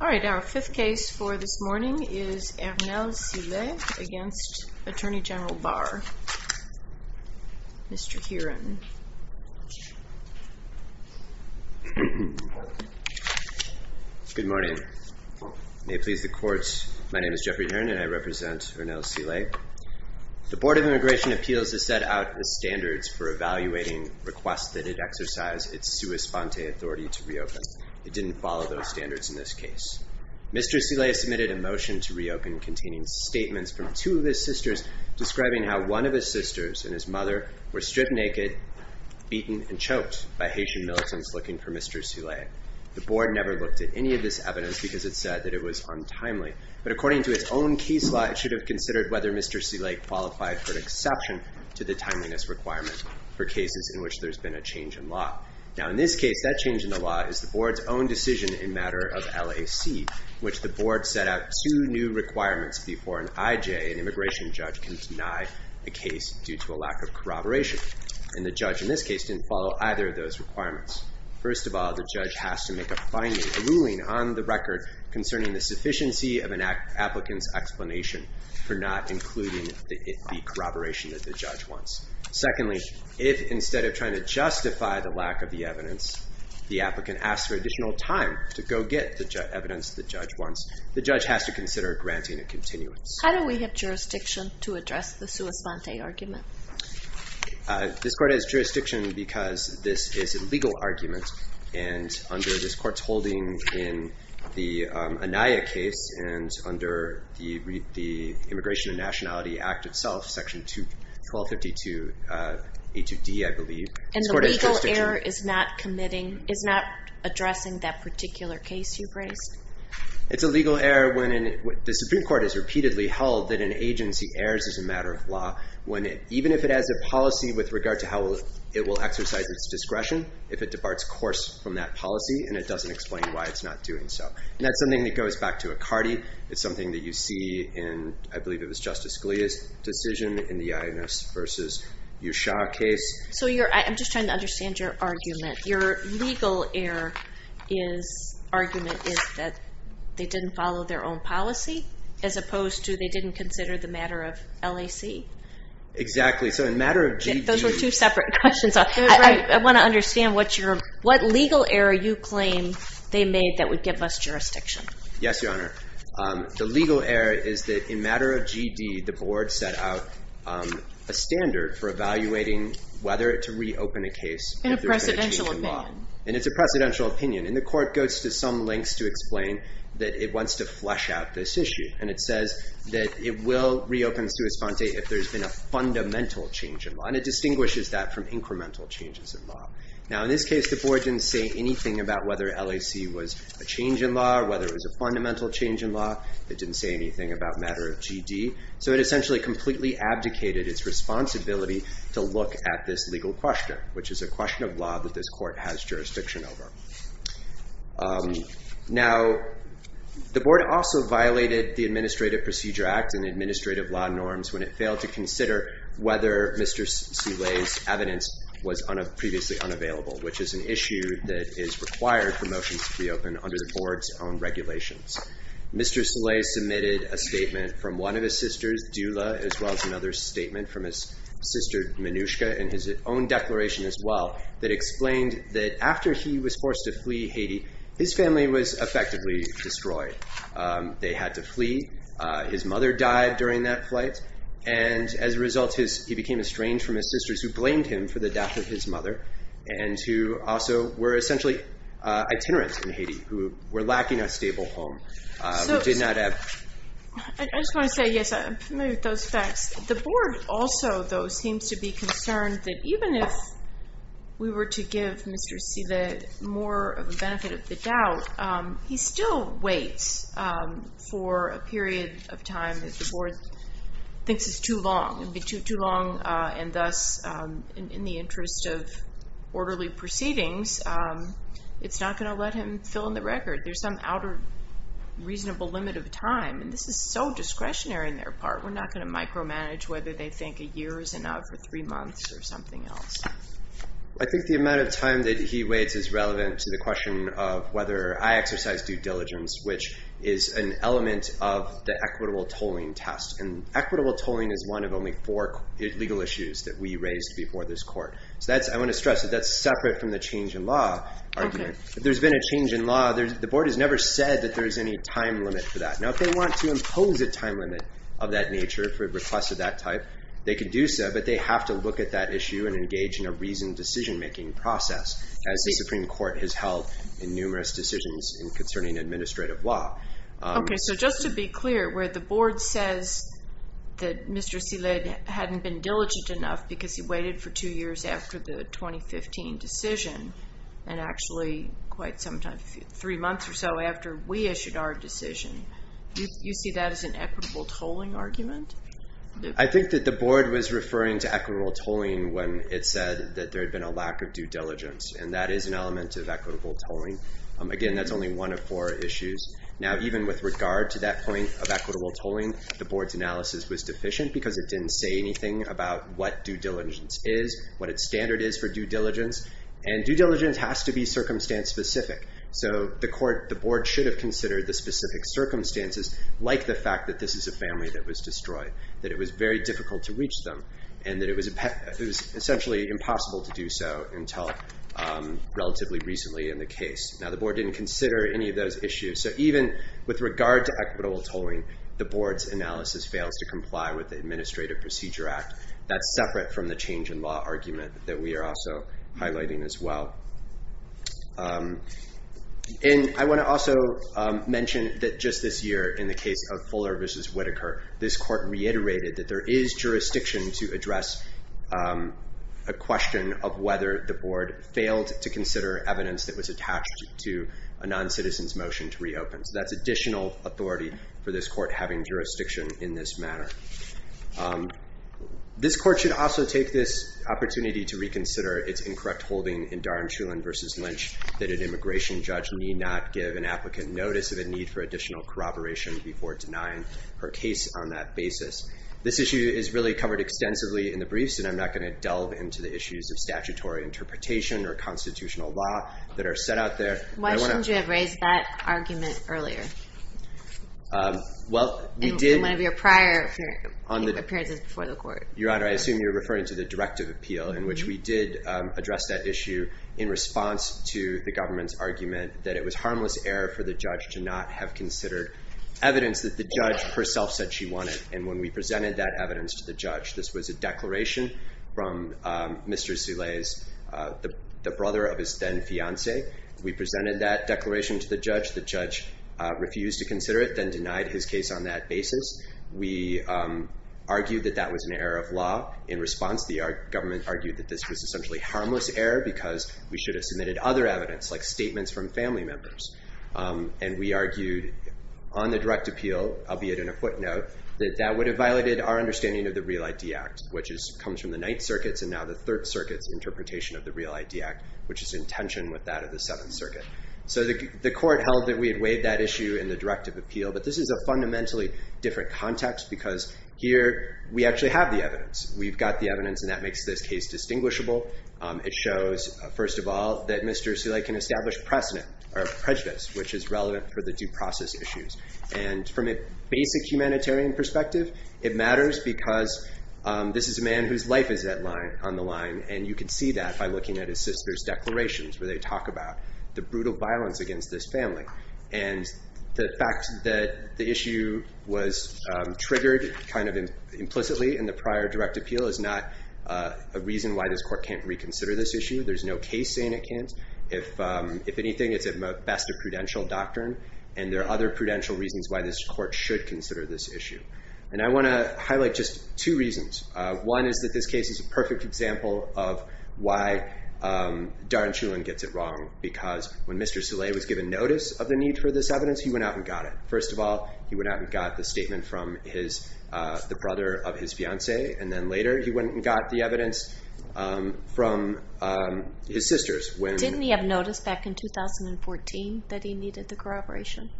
All right, our fifth case for this morning is Ernel Silais against Attorney General Barr. Mr. Heron. Good morning. May it please the court, my name is Jeffrey Heron and I represent the Department of Immigration Appeals to set out the standards for evaluating requests that it exercise its sua sponte authority to reopen. It didn't follow those standards in this case. Mr. Silais submitted a motion to reopen containing statements from two of his sisters describing how one of his sisters and his mother were stripped naked, beaten and choked by Haitian militants looking for Mr. Silais. The board never looked at any of this evidence because it said that it was untimely. But according to its own case law, it should have considered whether Mr. Silais qualified for an exception to the timeliness requirement for cases in which there's been a change in law. Now, in this case, that change in the law is the board's own decision in matter of LAC, which the board set out two new requirements before an IJ, an immigration judge, can deny a case due to a lack of corroboration. And the judge in this case didn't follow either of those requirements. First of all, the judge has to make a final ruling on the record concerning the sufficiency of an applicant's explanation. For not including the corroboration that the judge wants. Secondly, if instead of trying to justify the lack of the evidence, the applicant asks for additional time to go get the evidence the judge wants, the judge has to consider granting a continuance. How do we have jurisdiction to address the sua sponte argument? This court has jurisdiction because this is a legal argument and under this court's holding in the Anaya case and under the Immigration and Nationality Act itself, section 1252, H of D, I believe. And the legal heir is not committing, is not addressing that particular case you've raised? It's a legal heir when the Supreme Court has repeatedly held that an agency heirs is a matter of law. Even if it has a policy with regard to how it will exercise its discretion if it departs course from that policy and it doesn't explain why it's not doing so. And that's something that goes back to Icardi. It's something that you see in, I believe it was Justice Scalia's decision in the Ioannis versus Ushah case. So you're, I'm just trying to understand your argument. Your legal heir is, argument is that they didn't follow their own policy as opposed to they didn't consider the matter of LAC? Exactly. So in matter of GD. Those were two separate questions. I want to understand what you're, what legal heir you claim they made that would give us jurisdiction? Yes, Your Honor. The legal heir is that in matter of GD, the board set out a standard for evaluating whether to reopen a case. In a precedential opinion. And it's a precedential opinion. And the court goes to some lengths to explain that it wants to flesh out this issue. And it says that it will reopen sua sponte if there's been a fundamental change in law. And it distinguishes that from incremental changes in law. Now in this case, the board didn't say anything about whether LAC was a change in law or whether it was a fundamental change in law. It didn't say anything about matter of GD. So it essentially completely abdicated its responsibility to look at this legal question, which is a question of law that this court has jurisdiction over. Now, the board also violated the Administrative Procedure Act and administrative law norms when it failed to consider whether Mr. Soleil's evidence was previously unavailable, which is an issue that is required for motions to be open under the board's own regulations. Mr. Soleil submitted a statement from one of his sisters, Dula, as well as another statement from his sister, Minushka, in his own declaration as well, that explained that after he was forced to flee Haiti, his family was effectively destroyed. They had to flee. His mother died during that flight. And as a result, he became estranged from his sisters, who blamed him for the death of his mother, and who also were essentially itinerants in Haiti, who were lacking a stable home, who did not have... I just want to say, yes, I'm familiar with those facts. The board also, though, seems to be concerned that even if we were to give Mr. Silva more of a benefit of the doubt, he still waits for a period of time that the board thinks is too long, and thus, in the interest of orderly proceedings, it's not going to let him fill in the record. There's some outer reasonable limit of time, and this is so discretionary on their part. We're not going to micromanage whether they think a year is enough, or three months, or something else. I think the amount of time that he waits is relevant to the question of whether I exercise due diligence, which is an element of the equitable tolling test. And equitable tolling is one of only four legal issues that we raised before this court. I want to stress that that's separate from the change in law argument. If there's been a change in law, the board has never said that there's any time limit for that. Now, if they want to impose a time limit of that nature, for a request of that type, they can do so, but they have to look at that issue and engage in a reasoned decision-making process, as the Supreme Court has held in numerous decisions concerning administrative law. Okay, so just to be clear, where the board says that Mr. Silad hadn't been diligent enough because he waited for two years after the 2015 decision, and actually quite some time, three months or so after we issued our decision, you see that as an equitable tolling argument? I think that the board was referring to equitable tolling when it said that there had been a lack of due diligence, and that is an element of equitable tolling. Again, that's only one of four issues. Now, even with regard to that point of equitable tolling, the board's analysis was deficient because it didn't say anything about what due diligence is, what its standard is for due diligence, and due diligence has to be circumstance-specific. So the board should have considered the specific circumstances, like the fact that this is a family that was destroyed, that it was very difficult to reach them, and that it was essentially impossible to do so until relatively recently in the case. Now, the board didn't consider any of those issues, so even with regard to equitable tolling, the board's analysis fails to comply with the Administrative Procedure Act. That's separate from the change in law argument that we are also highlighting as well. And I want to also mention that just this year in the case of Fuller v. Whitaker, this court reiterated that there is jurisdiction to address a question of whether the board failed to consider evidence that was attached to a non-citizen's motion to reopen. So that's additional authority for this court having jurisdiction in this manner. This court should also take this opportunity to reconsider its incorrect holding in Darn Shulin v. Lynch, that an immigration judge need not give an applicant notice of a need for additional corroboration before denying her case on that basis. This issue is really covered extensively in the briefs, and I'm not going to delve into the issues of statutory interpretation or constitutional law that are set out there. Why shouldn't you have raised that argument earlier? In one of your prior appearances before the court. Your Honor, I assume you're referring to the directive appeal in which we did address that issue in response to the government's argument that it was harmless error for the judge to not have considered evidence that the judge herself said she wanted. And when we presented that evidence to the judge, this was a declaration from Mr. Soule's, the brother of his then fiance. We presented that declaration to the judge. The judge refused to consider it, then denied his case on that basis. We argued that that was an error of law. In response, the government argued that this was essentially harmless error because we should have submitted other evidence, like statements from family members. And we argued on the direct appeal, albeit in a footnote, that that would have violated our understanding of the Real ID Act, which comes from the Ninth Circuit, and now the Third Circuit's interpretation of that of the Seventh Circuit. So the court held that we had weighed that issue in the directive appeal, but this is a fundamentally different context because here we actually have the evidence. We've got the evidence, and that makes this case distinguishable. It shows, first of all, that Mr. Soule can establish prejudice, which is relevant for the due process issues. And from a basic humanitarian perspective, it matters because this is a man whose life is on the line, and you can see that by looking at his sister's declarations where they talk about the brutal violence against this family. And the fact that the issue was triggered implicitly in the prior direct appeal is not a reason why this court can't reconsider this issue. There's no case saying it can't. If anything, it's at best a prudential doctrine, and there are other prudential reasons why this court should consider this issue. And I want to highlight just two reasons. One is that this case is a perfect example of why Darren Shulman gets it wrong, because when Mr. Soule was given notice of the need for this evidence, he went out and got it. First of all, he went out and got the statement from the brother of his fiancée, and then later he went and got the evidence from his sisters. Didn't he have notice back in 2014 that he needed the corroboration?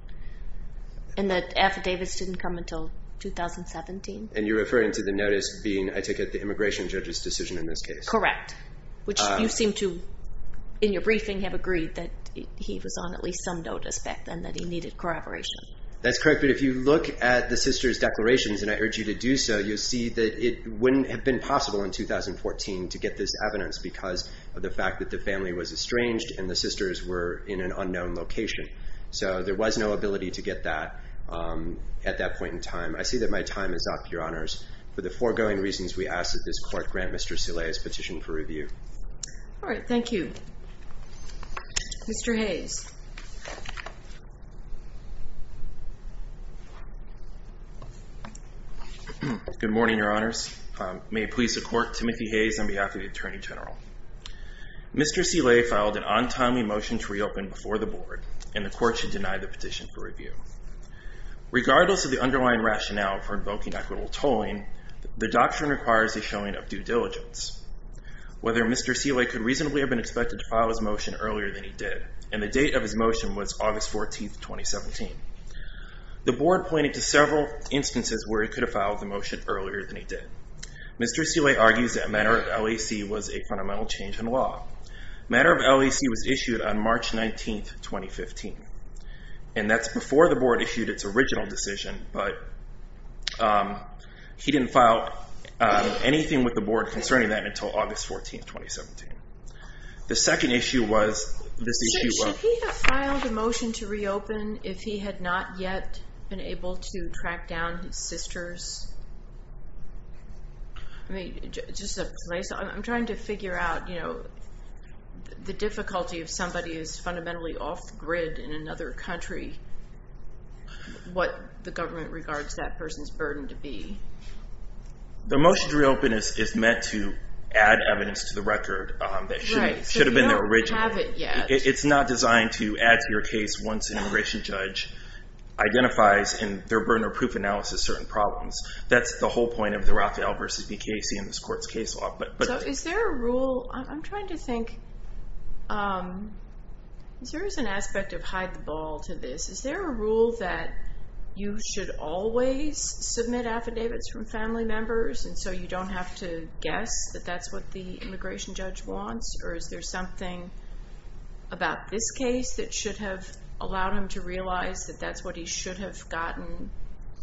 And the affidavits didn't come until 2017? And you're referring to the notice being, I take it, the immigration judge's decision in this case? Correct. Which you seem to, in your briefing, have agreed that he was on at least some notice back then that he needed corroboration. That's correct, but if you look at the sister's declarations, and I urge you to do so, you'll see that it wouldn't have been possible in 2014 to get this evidence because of the fact that the family was estranged and the sisters were in an unknown location. So there was no ability to get that at that point in time. I see that my time is up, Your Honors. For the foregoing reasons, we ask that this Court grant Mr. Soule his petition for review. All right. Thank you. Mr. Hayes. Good morning, Your Honors. May it please the Court, Timothy Hayes on behalf of the Attorney General. Mr. Soule filed an on-time motion to reopen before the Board, and the Court should deny the petition for review. Regardless of the underlying rationale for invoking equitable tolling, the doctrine requires a showing of due diligence. Whether Mr. Soule could reasonably have been expected to file his motion earlier than he did, and the date of his motion was August 14th, 2017. The Board pointed to several instances where he could have filed the motion earlier than he did. Mr. Soule argues that a matter of LAC was a fundamental change in And that's before the Board issued its original decision, but he didn't file anything with the Board concerning that until August 14th, 2017. The second issue was, this issue was Should he have filed a motion to reopen if he had not yet been able to track down his sisters? I mean, just a place, I'm trying to figure out, you know, the difficulty of somebody who's fundamentally off-grid in another country, what the government regards that person's burden to be. The motion to reopen is meant to add evidence to the record that should have been there originally. Right, so you don't have it yet. It's not designed to add to your case once an immigration judge identifies in their burden of proof analysis certain problems. That's the whole point of the Raphael v. BKC in this Court's case law, Is there a rule, I'm trying to think, there is an aspect of hide the ball to this. Is there a rule that you should always submit affidavits from family members, and so you don't have to guess that that's what the immigration judge wants? Or is there something about this case that should have allowed him to realize that that's what he should have gotten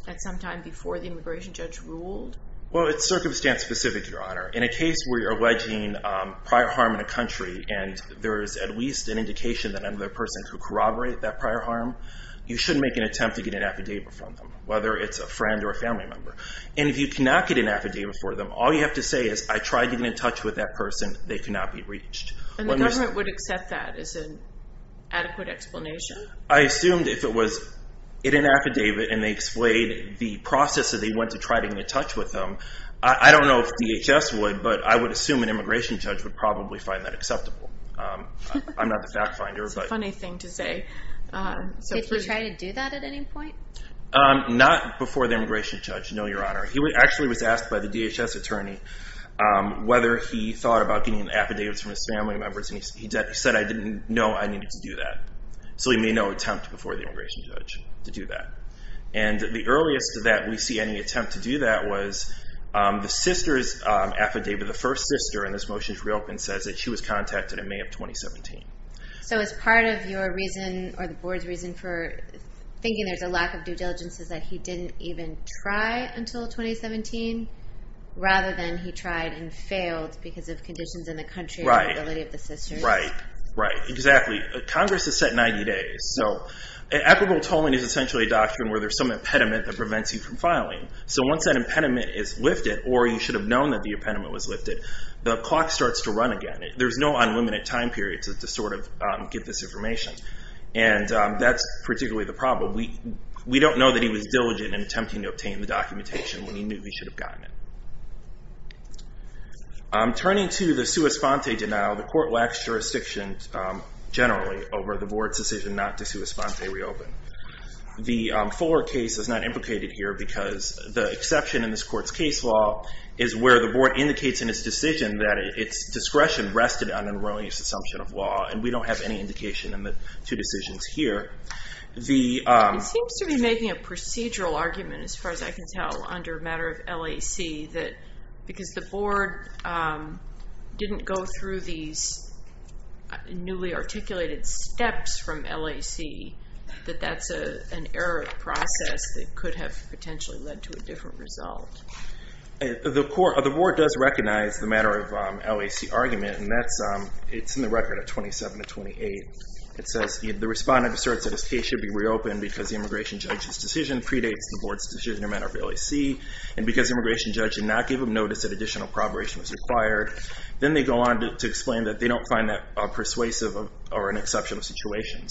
at some time before the immigration judge ruled? Well, it's circumstance specific, Your Honor. In a case where you're alleging prior harm in a country, and there is at least an indication that another person could corroborate that prior harm, you should make an attempt to get an affidavit from them, whether it's a friend or a family member. And if you cannot get an affidavit for them, all you have to say is, I tried getting in touch with that person, they could not be reached. And the government would accept that as an adequate explanation? I assumed if it was in an affidavit, and they explained the process that they went to try to get in touch with them, I don't know if DHS would, but I would assume an immigration judge would probably find that acceptable. I'm not the fact finder. It's a funny thing to say. Did he try to do that at any point? Not before the immigration judge, no, Your Honor. He actually was asked by the DHS attorney whether he thought about getting affidavits from his family members, and he said, I didn't know I needed to do that. So he made no attempt before the immigration judge to do that. And the earliest that we see any attempt to do that was the sister's affidavit, the first sister, and this motion is reopened, says that she was contacted in May of 2017. So as part of your reason, or the board's reason for thinking there's a lack of due diligence is that he didn't even try until 2017, rather than he tried and failed because of conditions in the country and the ability of the sisters? Right, right, exactly. Congress has set 90 days. So equitable tolling is essentially a doctrine where there's some impediment that prevents you from filing. So once that impediment is lifted, or you should have known that the impediment was lifted, the clock starts to run again. There's no unlimited time period to sort of get this information. And that's particularly the problem. We don't know that he was diligent in attempting to obtain the documentation when he knew he should have gotten it. Turning to the sua sponte denial, the court lacks jurisdiction generally over the board's decision not to sua sponte reopen. The Fuller case is not implicated here because the exception in this court's case law is where the board indicates in its decision that its discretion rested on an erroneous assumption of law, and we don't have any indication in the two decisions here. It seems to be making a procedural argument, as far as I can tell, under a matter of LAC, that because the board didn't go through these newly articulated steps from LAC, that that's an error of process that could have potentially led to a different result. The board does recognize the matter of LAC argument, and it's in the record of 27 to 28. It says the respondent asserts that his case should be reopened because the immigration judge's decision predates the board's decision in a matter of LAC, and because the immigration judge did not give him notice that additional probation was required. Then they go on to explain that they don't find that persuasive or an exceptional situation.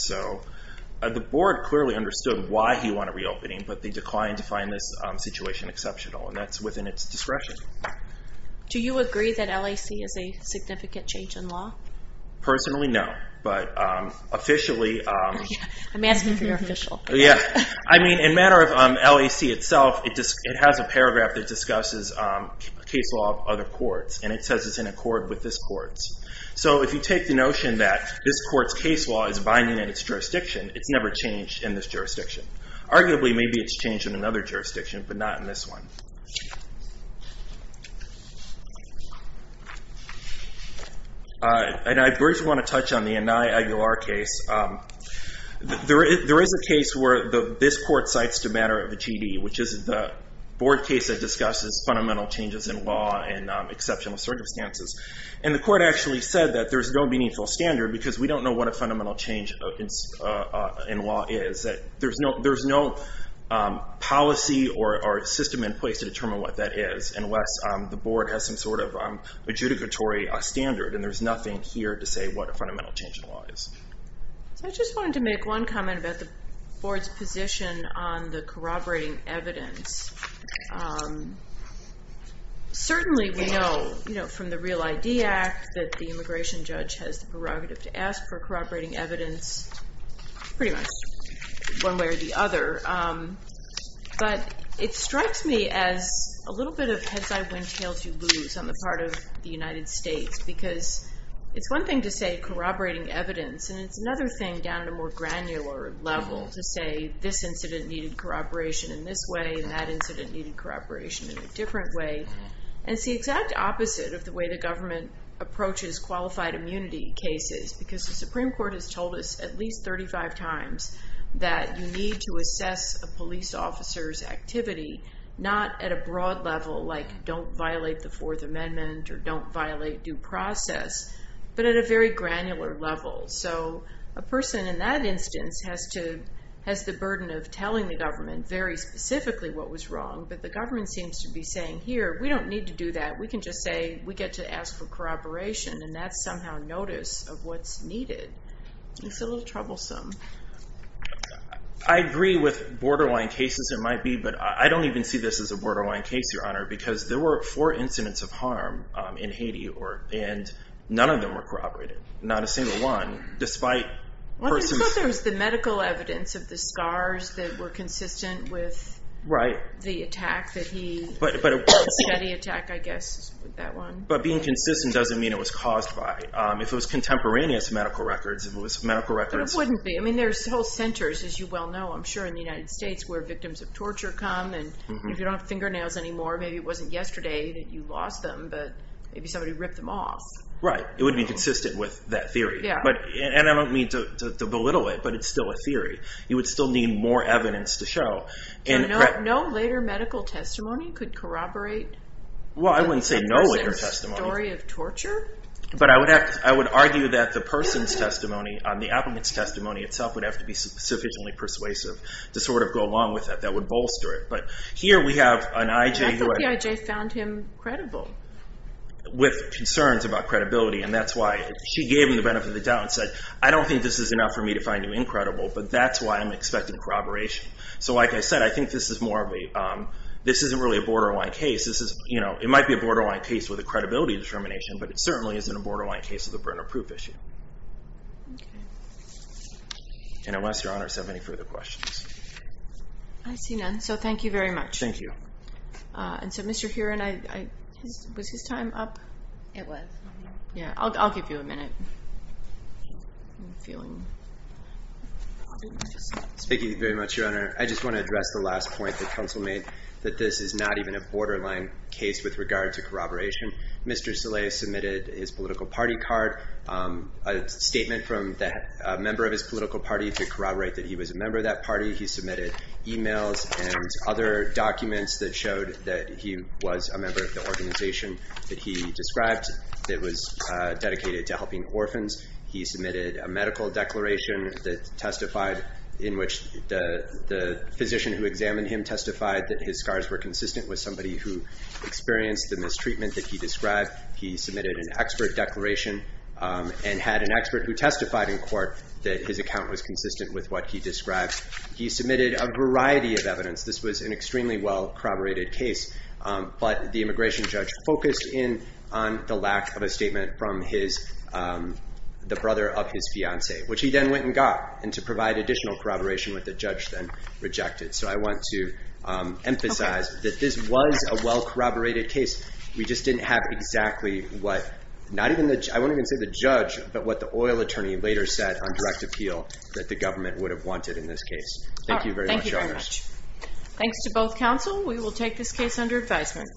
The board clearly understood why he wanted reopening, but they declined to find this situation exceptional, and that's within its discretion. Do you agree that LAC is a significant change in law? Personally, no, but officially... I'm asking for your official opinion. I mean, in a matter of LAC itself, it has a paragraph that discusses case law of other courts, and it says it's in accord with this court's. So if you take the notion that this court's case law is binding on its jurisdiction, it's never changed in this jurisdiction. Arguably, maybe it's changed in another jurisdiction, but not in this one. And I first want to touch on the Anai Aguilar case. There is a case where this court cites the matter of a TD, which is the board case that discusses fundamental changes in law and exceptional circumstances. And the court actually said that there's no meaningful standard because we don't know what a fundamental change in law is, that there's no policy or system in place to determine what that is, unless the board has some sort of adjudicatory standard, and there's nothing here to say what a fundamental change in law is. So I just wanted to make one comment about the board's position on the corroborating evidence. Certainly, we know from the Real ID Act that the immigration judge has the prerogative to ask for corroborating evidence pretty much one way or the other, but it strikes me as a little bit of heads-eye, wind-tails-you-lose on the part of the United States, because it's one thing to say corroborating evidence, and it's another thing down to a more granular level to say this incident needed corroboration in this way, and that incident needed corroboration in a different way. And it's the exact opposite of the way the government approaches qualified immunity cases, because the Supreme Court has told us at least 35 times that you need to assess a police officer's activity not at a broad level, like don't violate the Fourth Amendment or don't violate due process, but at a very granular level. So a person in that instance has the burden of telling the government very specifically what was wrong, but the government seems to be saying, here, we don't need to do that. We can just say we get to ask for corroboration, and that's somehow notice of what's needed. It's a little troublesome. I agree with borderline cases there might be, but I don't even see this as a borderline case, Your Honor, because there were four incidents of harm in Haiti, and none of them were corroborated, not a single one, despite... I thought there was the medical evidence of the scars that were consistent with the attack that he... But a steady attack, I guess, is that one. But being consistent doesn't mean it was caused by. If it was contemporaneous medical records, if it was medical records... It wouldn't be. There's whole centers, as you well know, I'm sure, in the United States where victims of torture come, and if you don't have fingernails anymore, maybe it wasn't yesterday that you lost them, but maybe somebody ripped them off. Right. It wouldn't be consistent with that theory. Yeah. And I don't mean to belittle it, but it's still a theory. You would still need more evidence to show. So no later medical testimony could corroborate... Well, I wouldn't say no later testimony. ...a story of torture? But I would argue that the person's testimony, the applicant's testimony itself, would have to be sufficiently persuasive to go along with it. That would bolster it. But here we have an I.J. who... I thought the I.J. found him credible. ...with concerns about credibility, and that's why she gave him the benefit of the doubt and said, I don't think this is enough for me to find you incredible, but that's why I'm expecting corroboration. So like I said, I think this is more of a... This isn't really a borderline case. It might be a borderline case with a credibility determination, but it certainly isn't a borderline case with a burner proof issue. Okay. And unless Your Honor has any further questions. I see none. So thank you very much. Thank you. And so Mr. Heron, was his time up? It was. Yeah. I'll give you a minute. Thank you very much, Your Honor. I just want to address the last point that counsel made, that this is not even a borderline case with regard to corroboration. Mr. Saleh submitted his political party card, a statement from a member of his political party to corroborate that he was a member of that party. He submitted emails and other documents that showed that he was a member of the organization that he described that was dedicated to helping orphans. He submitted a medical declaration that testified in which the physician who examined him testified that his scars were consistent with somebody who experienced the mistreatment that he described. He submitted an expert declaration and had an expert who testified in court that his account was consistent with what he described. He submitted a variety of evidence. This was an extremely well corroborated case, but the immigration judge focused in on the lack of a statement from the brother of his fiancee, which he then went and got. And to provide additional corroboration with the judge then rejected. So I want to emphasize that this was a well corroborated case. We just didn't have exactly what, I won't even say the judge, but what the oil attorney later said on direct appeal that the government would have wanted in this case. Thank you very much. Thank you very much. Thanks to both counsel. We will take this case under advisement.